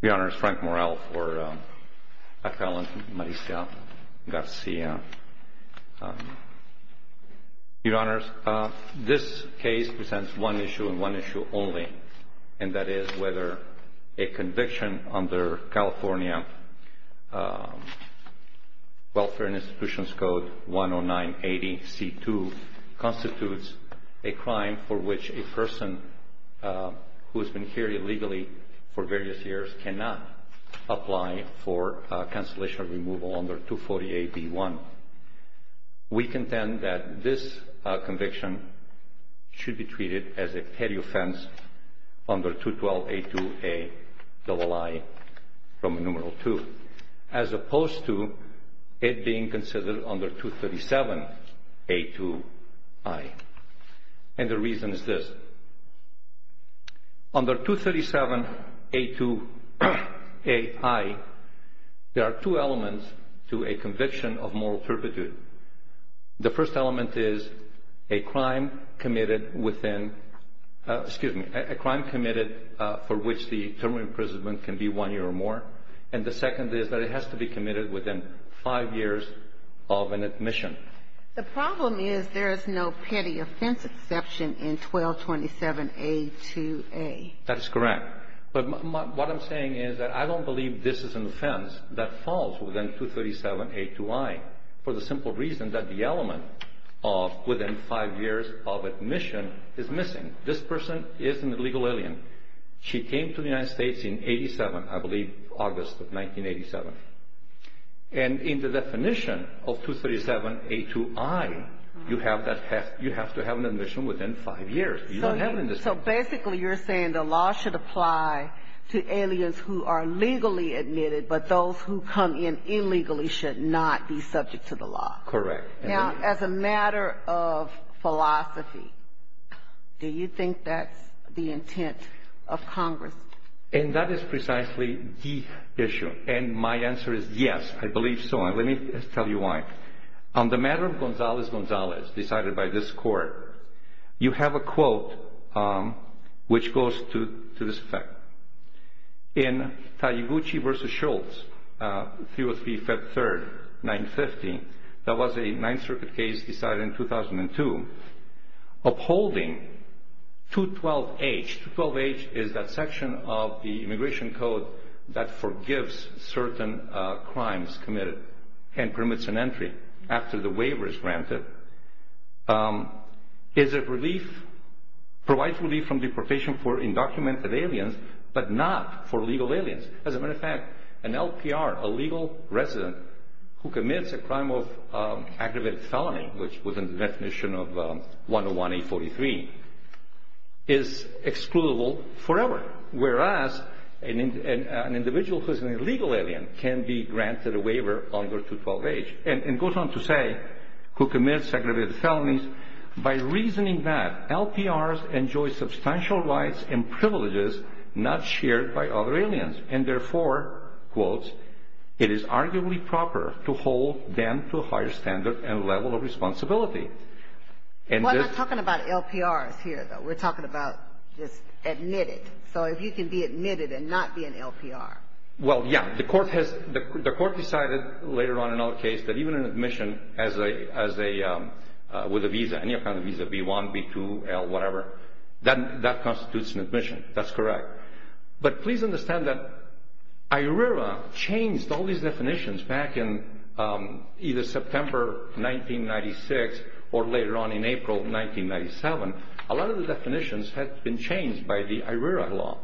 Your Honors, Frank Morrell for a felon, Maricia Garcia Your Honors, this case presents one issue and one issue only and that is whether a conviction under California Welfare and Institutions Code 10980C2 constitutes a crime for which a person who has been here illegally for various years cannot apply for cancellation or removal under 248B1. We contend that this conviction should be treated as a petty offense under 212A2A double I from numeral 2 as opposed to it being considered under 237A2I. And the reason is this. Under 237A2AI, there are two elements to a conviction of moral turpitude. The first element is a crime committed for which the term of imprisonment can be one year or more and the second is that it has to be committed within five years of an admission. The problem is there is no petty offense exception in 1227A2A. That is correct. But what I'm saying is that I don't believe this is an offense that falls within 237A2I for the simple reason that the element of within five years of admission is missing. This person is an illegal alien. She came to the United States in 87, I believe August of 1987. And in the definition of 237A2I, you have to have an admission within five years. So basically you're saying the law should apply to aliens who are legally admitted but those who come in illegally should not be subject to the law. Correct. Now, as a matter of philosophy, do you think that's the intent of Congress? And that is precisely the issue. And my answer is yes, I believe so. And let me tell you why. On the matter of Gonzalez-Gonzalez decided by this Court, you have a quote which goes to this effect. In Taguchi v. Schultz, 303, Feb. 3, 1950, that was a Ninth Circuit case decided in 2002. Upholding 212H. 212H is that section of the Immigration Code that forgives certain crimes committed and permits an entry after the waiver is granted. It provides relief from deportation for undocumented aliens but not for legal aliens. As a matter of fact, an LPR, a legal resident, who commits a crime of aggravated felony, which was in the definition of 101A43, is excludable forever. Whereas an individual who is an illegal alien can be granted a waiver under 212H. And it goes on to say, who commits aggravated felonies, by reasoning that LPRs enjoy substantial rights and privileges not shared by other aliens. And therefore, quotes, it is arguably proper to hold them to a higher standard and level of responsibility. We're not talking about LPRs here, though. We're talking about just admitted. So if you can be admitted and not be an LPR. Well, yeah. The court decided later on in our case that even an admission with a visa, any kind of visa, B-1, B-2, L, whatever, that constitutes an admission. That's correct. But please understand that IRERA changed all these definitions back in either September 1996 or later on in April 1997. A lot of the definitions had been changed by the IRERA law.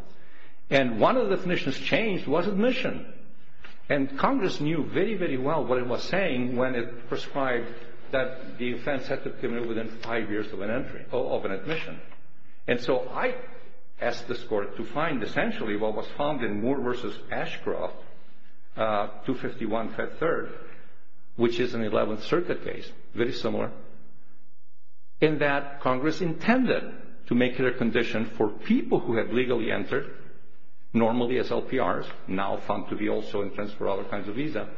And one of the definitions changed was admission. And Congress knew very, very well what it was saying when it prescribed that the offense had to be committed within five years of an admission. And so I asked this court to find essentially what was found in Moore v. Ashcroft, 251 Fed 3rd, which is an 11th Circuit case, very similar, in that Congress intended to make it a condition for people who have legally entered, normally as LPRs, now found to be also entrenched for other kinds of visa,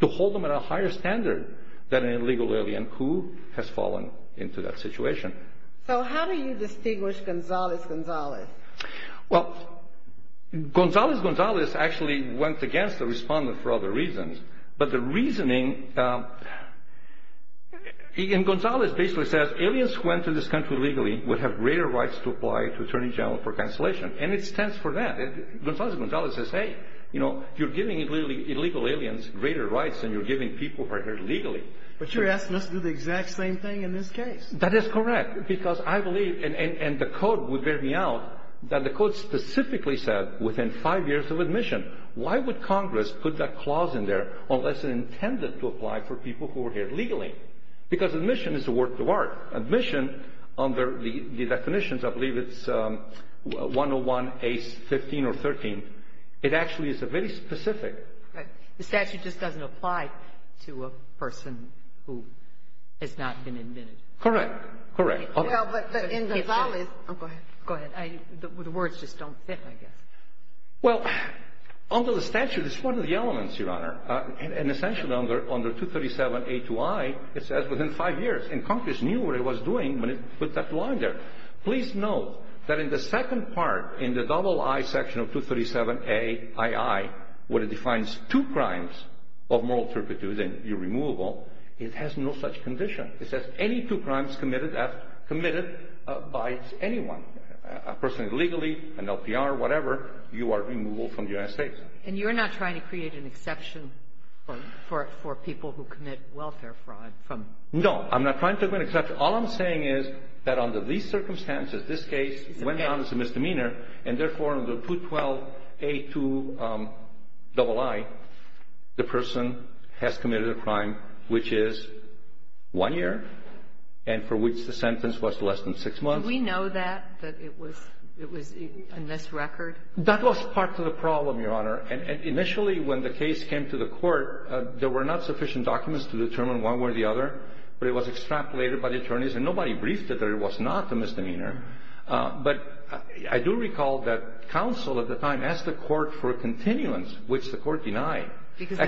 to hold them at a higher standard than an illegal alien who has fallen into that situation. So how do you distinguish Gonzales-Gonzales? Well, Gonzales-Gonzales actually went against the respondent for other reasons. But the reasoning, and Gonzales basically says, aliens who enter this country legally would have greater rights to apply to attorney general for cancellation. And it stands for that. Gonzales-Gonzales says, hey, you know, you're giving illegal aliens greater rights than you're giving people who are here legally. But you're asking us to do the exact same thing in this case. That is correct. Because I believe, and the code would bear me out, that the code specifically said within five years of admission. Why would Congress put that clause in there unless it intended to apply for people who were here legally? Because admission is a work of art. Admission, under the definitions, I believe it's 101A15 or 13. It actually is a very specific. The statute just doesn't apply to a person who has not been admitted. Correct. Correct. Well, but in Gonzales. Go ahead. The words just don't fit, I guess. Well, under the statute, it's one of the elements, Your Honor. And essentially under 237A2I, it says within five years. And Congress knew what it was doing when it put that line there. Please note that in the second part, in the double I section of 237AII, where it defines two crimes of moral turpitude and irremovable, it has no such condition. It says any two crimes committed by anyone, a person illegally, an LPR, whatever, you are removable from the United States. And you're not trying to create an exception for people who commit welfare fraud from? No. I'm not trying to make an exception. All I'm saying is that under these circumstances, this case went down as a misdemeanor, and therefore under 212A2 double I, the person has committed a crime which is one year and for which the sentence was less than six months. Did we know that, that it was a misrecord? That was part of the problem, Your Honor. And initially when the case came to the Court, there were not sufficient documents to determine one way or the other, but it was extrapolated by the attorneys, and nobody briefed it that it was not a misdemeanor. But I do recall that counsel at the time asked the Court for a continuance, which the Court denied. Because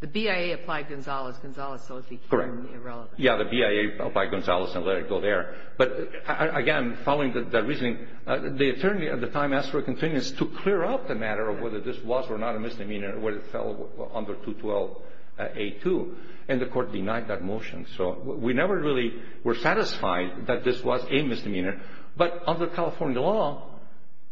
the BIA applied Gonzales, Gonzales, so it would be clearly irrelevant. Correct. Yeah, the BIA applied Gonzales and let it go there. But, again, following that reasoning, the attorney at the time asked for a continuance to clear up the matter of whether this was or not a misdemeanor where it fell under 212A2, and the Court denied that motion. So we never really were satisfied that this was a misdemeanor. But under California law,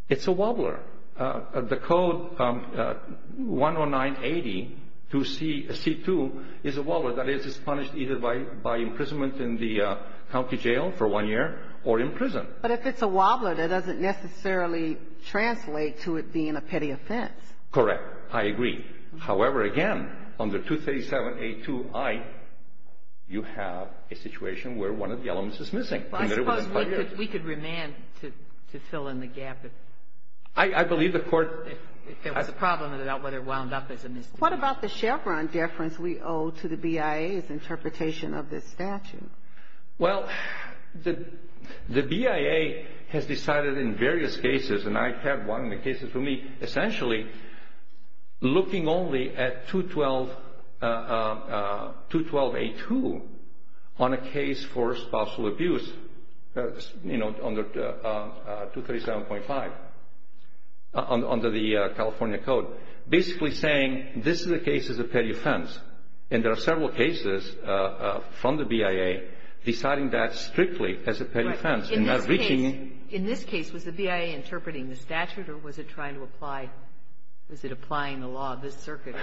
it's a wobbler. The code 10980 to C2 is a wobbler that is punished either by imprisonment in the county jail for one year or in prison. But if it's a wobbler, that doesn't necessarily translate to it being a petty offense. Correct. I agree. However, again, under 237A2I, you have a situation where one of the elements is missing. I suppose we could remand to fill in the gap. I believe the Court — If there was a problem about whether it wound up as a misdemeanor. What about the Chevron deference we owe to the BIA's interpretation of this statute? Well, the BIA has decided in various cases, and I had one of the cases for me essentially looking only at 212A2 on a case for spousal abuse, you know, under 237.5, under the California code, basically saying this is a case as a petty offense. And there are several cases from the BIA deciding that strictly as a petty offense. In this case, was the BIA interpreting the statute, or was it trying to apply — was it applying the law of this circuit?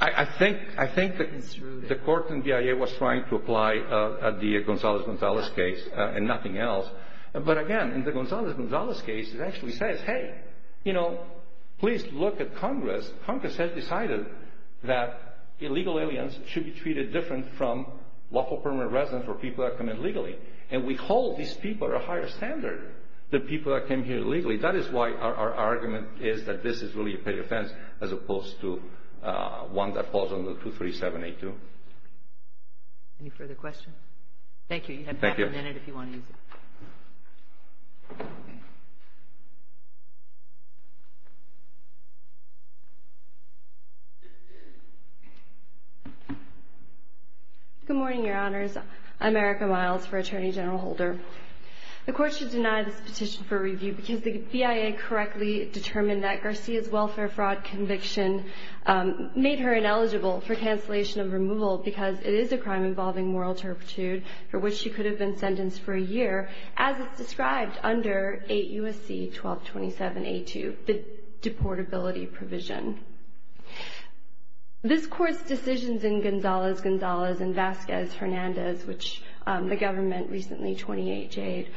I think the court in BIA was trying to apply the Gonzalez-Gonzalez case and nothing else. But again, in the Gonzalez-Gonzalez case, it actually says, hey, you know, please look at Congress. Congress has decided that illegal aliens should be treated different from local permanent residents or people that come in legally. And we hold these people at a higher standard than people that came here legally. That is why our argument is that this is really a petty offense as opposed to one that falls under 237A2. Any further questions? Thank you. You have half a minute if you want to use it. Good morning, Your Honors. I'm Erica Miles for Attorney General Holder. The court should deny this petition for review because the BIA correctly determined that Garcia's welfare fraud conviction made her ineligible for cancellation of removal because it is a crime involving moral turpitude for which she could have been sentenced for a year, as is described under 8 U.S.C. 1227A2, the deportability provision. This Court's decisions in Gonzalez-Gonzalez and Vasquez-Hernandez, which the government recently 28J'd,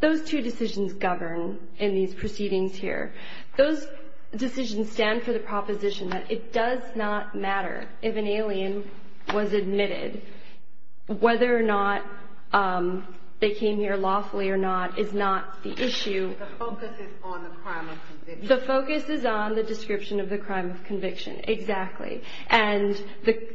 those two decisions govern in these proceedings here. Those decisions stand for the proposition that it does not matter if an alien was admitted, whether or not they came here lawfully or not is not the issue. The focus is on the crime of conviction. The focus is on the description of the crime of conviction, exactly, and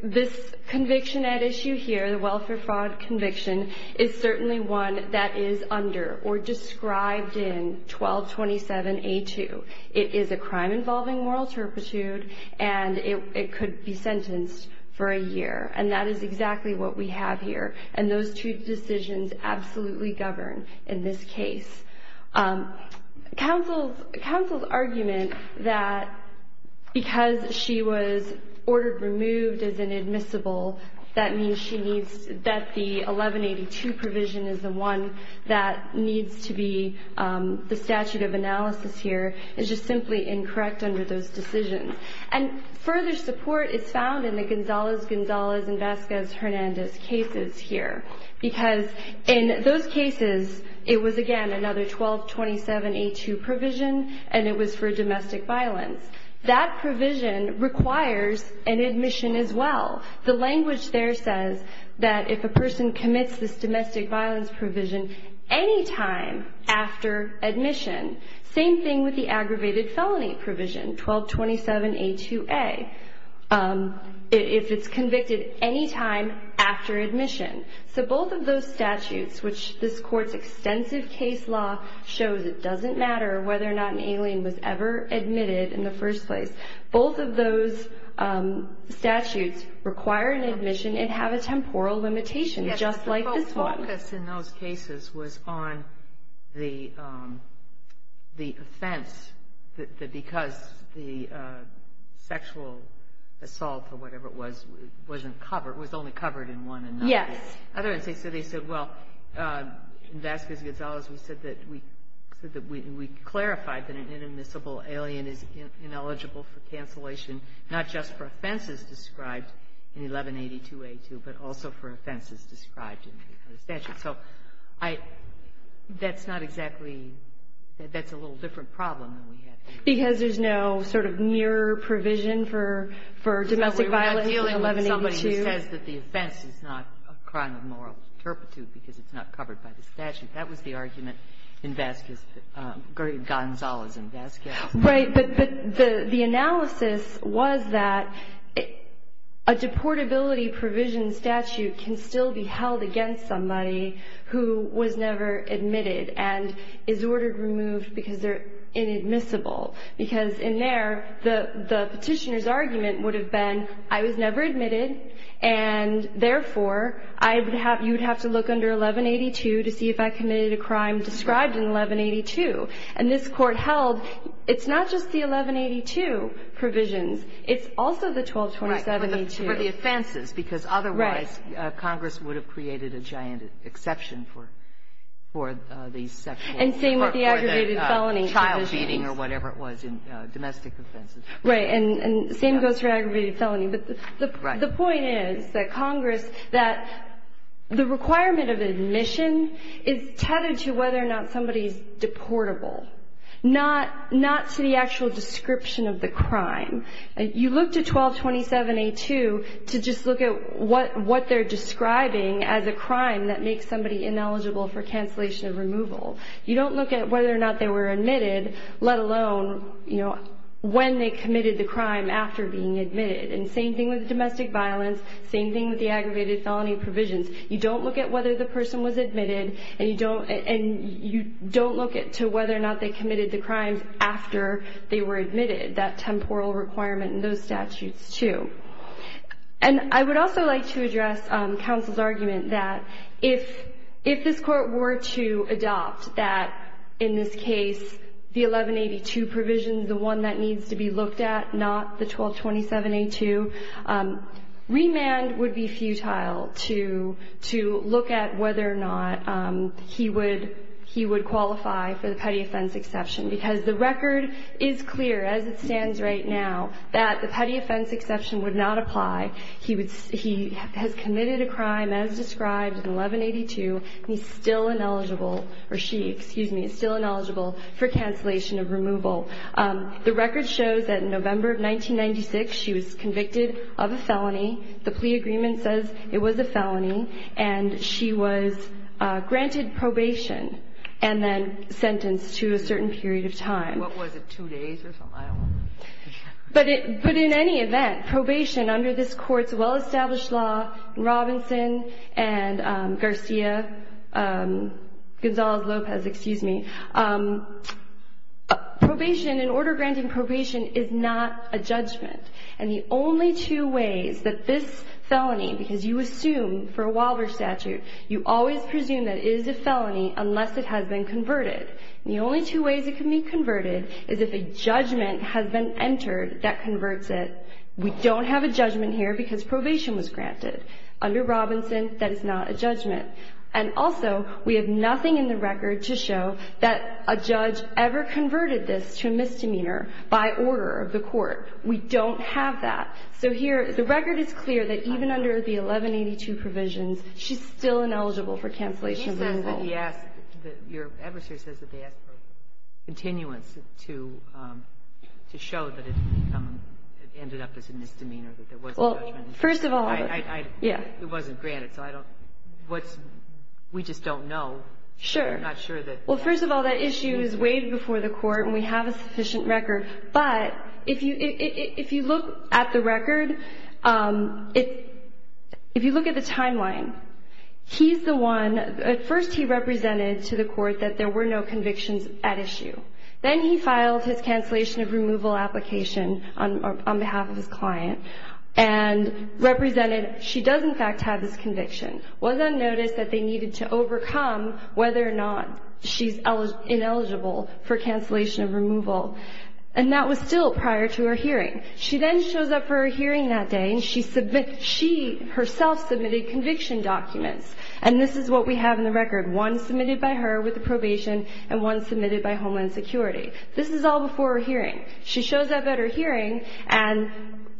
this conviction at issue here, the welfare fraud conviction, is certainly one that is under or described in 1227A2. It is a crime involving moral turpitude, and it could be sentenced for a year, and that is exactly what we have here, and those two decisions absolutely govern in this case. Counsel's argument that because she was ordered removed as inadmissible, that means she needs, that the 1182 provision is the one that needs to be the statute of analysis here, is just simply incorrect under those decisions. And further support is found in the Gonzalez-Gonzalez and Vasquez-Hernandez cases here because in those cases it was, again, another 1227A2 provision, and it was for domestic violence. That provision requires an admission as well. The language there says that if a person commits this domestic violence provision any time after admission, same thing with the aggravated felony provision, 1227A2A, if it's convicted any time after admission. So both of those statutes, which this Court's extensive case law shows it doesn't matter whether or not an alien was ever admitted in the first place, both of those statutes require an admission and have a temporal limitation, just like this one. The focus in those cases was on the offense that because the sexual assault or whatever it was wasn't covered, was only covered in one another. Yes. In other words, they said, well, in Vasquez-Gonzalez we said that we clarified that an inadmissible alien is ineligible for cancellation not just for offenses described in 1182A2, but also for offenses described in the other statute. So I — that's not exactly — that's a little different problem than we had before. Because there's no sort of near provision for domestic violence in 1182? Because we were not dealing with somebody who says that the offense is not a crime of moral turpitude because it's not covered by the statute. That was the argument in Vasquez-Gonzalez and Vasquez-Gonzalez. Right. But the analysis was that a deportability provision statute can still be held against somebody who was never admitted and is ordered removed because they're inadmissible. Because in there the petitioner's argument would have been I was never admitted and therefore you would have to look under 1182 to see if I committed a crime described in 1182. And this Court held it's not just the 1182 provisions. It's also the 1227A2. Right. For the offenses. Because otherwise Congress would have created a giant exception for these sexual or for the child beating or whatever it was in domestic offenses. Right. And the same goes for aggravated felony. The point is that Congress that the requirement of admission is tethered to whether or not somebody is deportable. Not to the actual description of the crime. You look to 1227A2 to just look at what they're describing as a crime that makes somebody ineligible for cancellation of removal. You don't look at whether or not they were admitted, let alone when they committed the crime after being admitted. And same thing with domestic violence. Same thing with the aggravated felony provisions. You don't look at whether the person was admitted. And you don't look to whether or not they committed the crimes after they were admitted. That temporal requirement in those statutes, too. And I would also like to address counsel's argument that if this Court were to adopt that, in this case, the 1182 provisions, the one that needs to be looked at, not the 1227A2, remand would be futile to look at whether or not he would qualify for the petty offense exception. Because the record is clear, as it stands right now, that the petty offense exception would not apply. He has committed a crime as described in 1182, and he's still ineligible, or she, excuse me, is still ineligible for cancellation of removal. The record shows that in November of 1996, she was convicted of a felony. The plea agreement says it was a felony. And she was granted probation and then sentenced to a certain period of time. What was it, two days or something? I don't remember. But in any event, probation under this Court's well-established law in Robinson and Garcia, Gonzalez-Lopez, excuse me, probation, an order granting probation, is not a judgment. And the only two ways that this felony, because you assume for a Waldorf statute, you always presume that it is a felony unless it has been converted. And the only two ways it can be converted is if a judgment has been entered that converts it. We don't have a judgment here because probation was granted. Under Robinson, that is not a judgment. And also, we have nothing in the record to show that a judge ever converted this to a misdemeanor by order of the Court. We don't have that. So here, the record is clear that even under the 1182 provisions, she's still ineligible for cancellation of removal. Your adversary says that they asked for continuance to show that it ended up as a misdemeanor, that there was a judgment. Well, first of all, yeah. It wasn't granted. So I don't know. We just don't know. Sure. We're not sure that. Well, first of all, that issue is waived before the Court, and we have a sufficient record. But if you look at the record, if you look at the timeline, he's the one. At first, he represented to the Court that there were no convictions at issue. Then he filed his cancellation of removal application on behalf of his client and represented she does, in fact, have this conviction. It was unnoticed that they needed to overcome whether or not she's ineligible for cancellation of removal. And that was still prior to her hearing. She then shows up for her hearing that day, and she herself submitted conviction documents. And this is what we have in the record, one submitted by her with the probation and one submitted by Homeland Security. This is all before her hearing. She shows up at her hearing and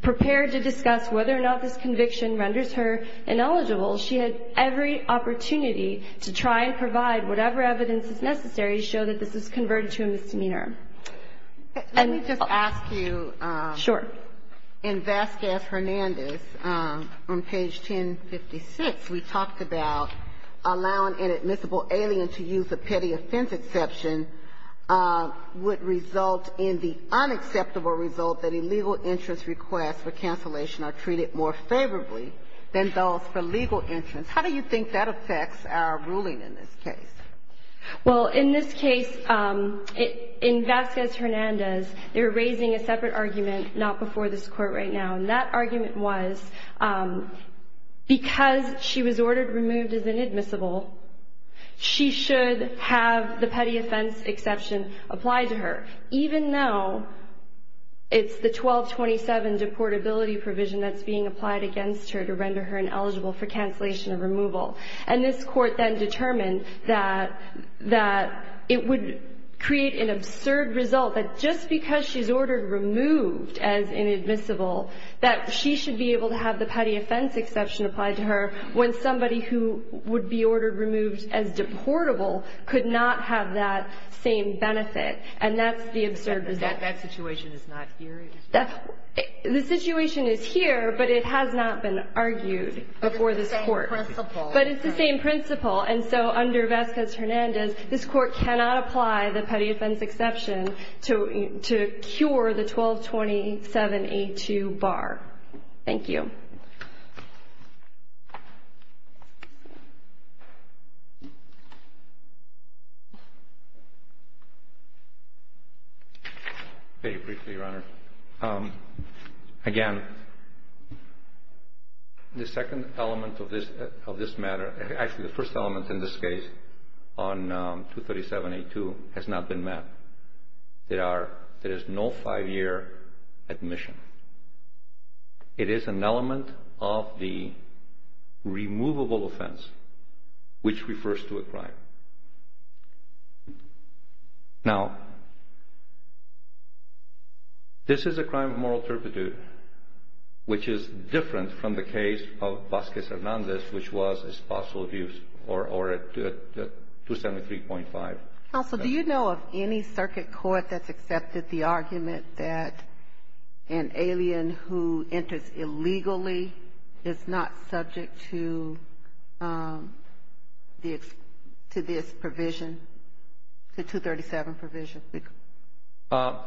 prepared to discuss whether or not this conviction renders her ineligible. She had every opportunity to try and provide whatever evidence is necessary to show that this is converted to a misdemeanor. Let me just ask you. Sure. In Vasquez-Hernandez, on page 1056, we talked about allowing an admissible alien to use a petty offense exception would result in the unacceptable result that illegal interest requests for cancellation are treated more favorably than those for legal interest. How do you think that affects our ruling in this case? Well, in this case, in Vasquez-Hernandez, they were raising a separate argument not before this Court right now. And that argument was because she was ordered removed as inadmissible, she should have the petty offense exception apply to her. Even though it's the 1227 deportability provision that's being applied against her to render her ineligible for cancellation or removal. And this Court then determined that it would create an absurd result that just because she's ordered removed as inadmissible, that she should be able to have the petty offense exception applied to her when somebody who would be ordered removed as deportable could not have that same benefit. And that's the absurd result. That situation is not here? The situation is here, but it has not been argued before this Court. But it's the same principle. But it's the same principle. And so under Vasquez-Hernandez, this Court cannot apply the petty offense exception to cure the 1227A2 bar. Thank you. Very briefly, Your Honor. Again, the second element of this matter, actually the first element in this case on 237A2 has not been met. There is no five-year admission. It is an element of the removable offense which refers to a crime. Now, this is a crime of moral turpitude, which is different from the case of Vasquez-Hernandez, which was espousal abuse or 273.5. Counsel, do you know of any circuit court that's accepted the argument that an alien who enters illegally is not subject to this provision, the 237 provision?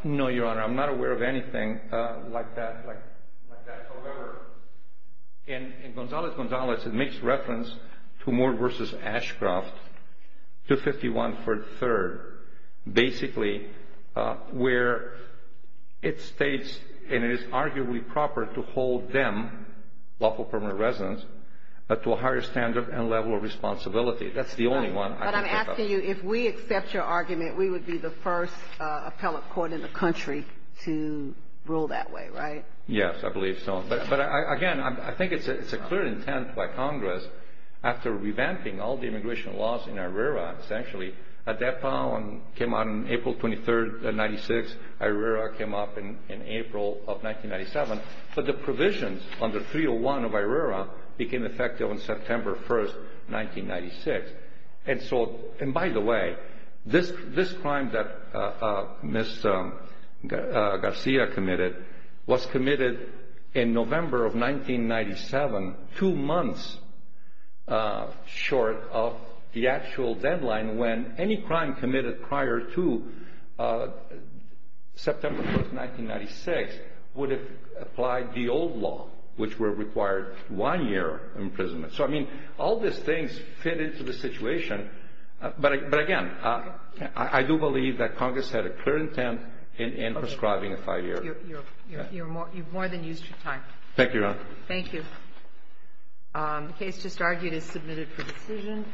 No, Your Honor. I'm not aware of anything like that. However, in Gonzalez-Gonzalez, it makes reference to Moore v. Ashcroft, 251 for the third, basically, where it states and it is arguably proper to hold them, lawful permanent residents, to a higher standard and level of responsibility. That's the only one I can think of. But I'm asking you, if we accept your argument, we would be the first appellate court in the country to rule that way, right? Yes, I believe so. But, again, I think it's a clear intent by Congress, after revamping all the immigration laws in ARERA, essentially, ADEPA came out on April 23, 1996. ARERA came up in April of 1997. But the provisions under 301 of ARERA became effective on September 1, 1996. And, by the way, this crime that Ms. Garcia committed was committed in November of 1997, two months short of the actual deadline when any crime committed prior to September 1, 1996, would have applied the old law, which would have required one year imprisonment. So, I mean, all these things fit into the situation. But, again, I do believe that Congress had a clear intent in prescribing a five-year. You've more than used your time. Thank you, Your Honor. Thank you. The case just argued is submitted for decision.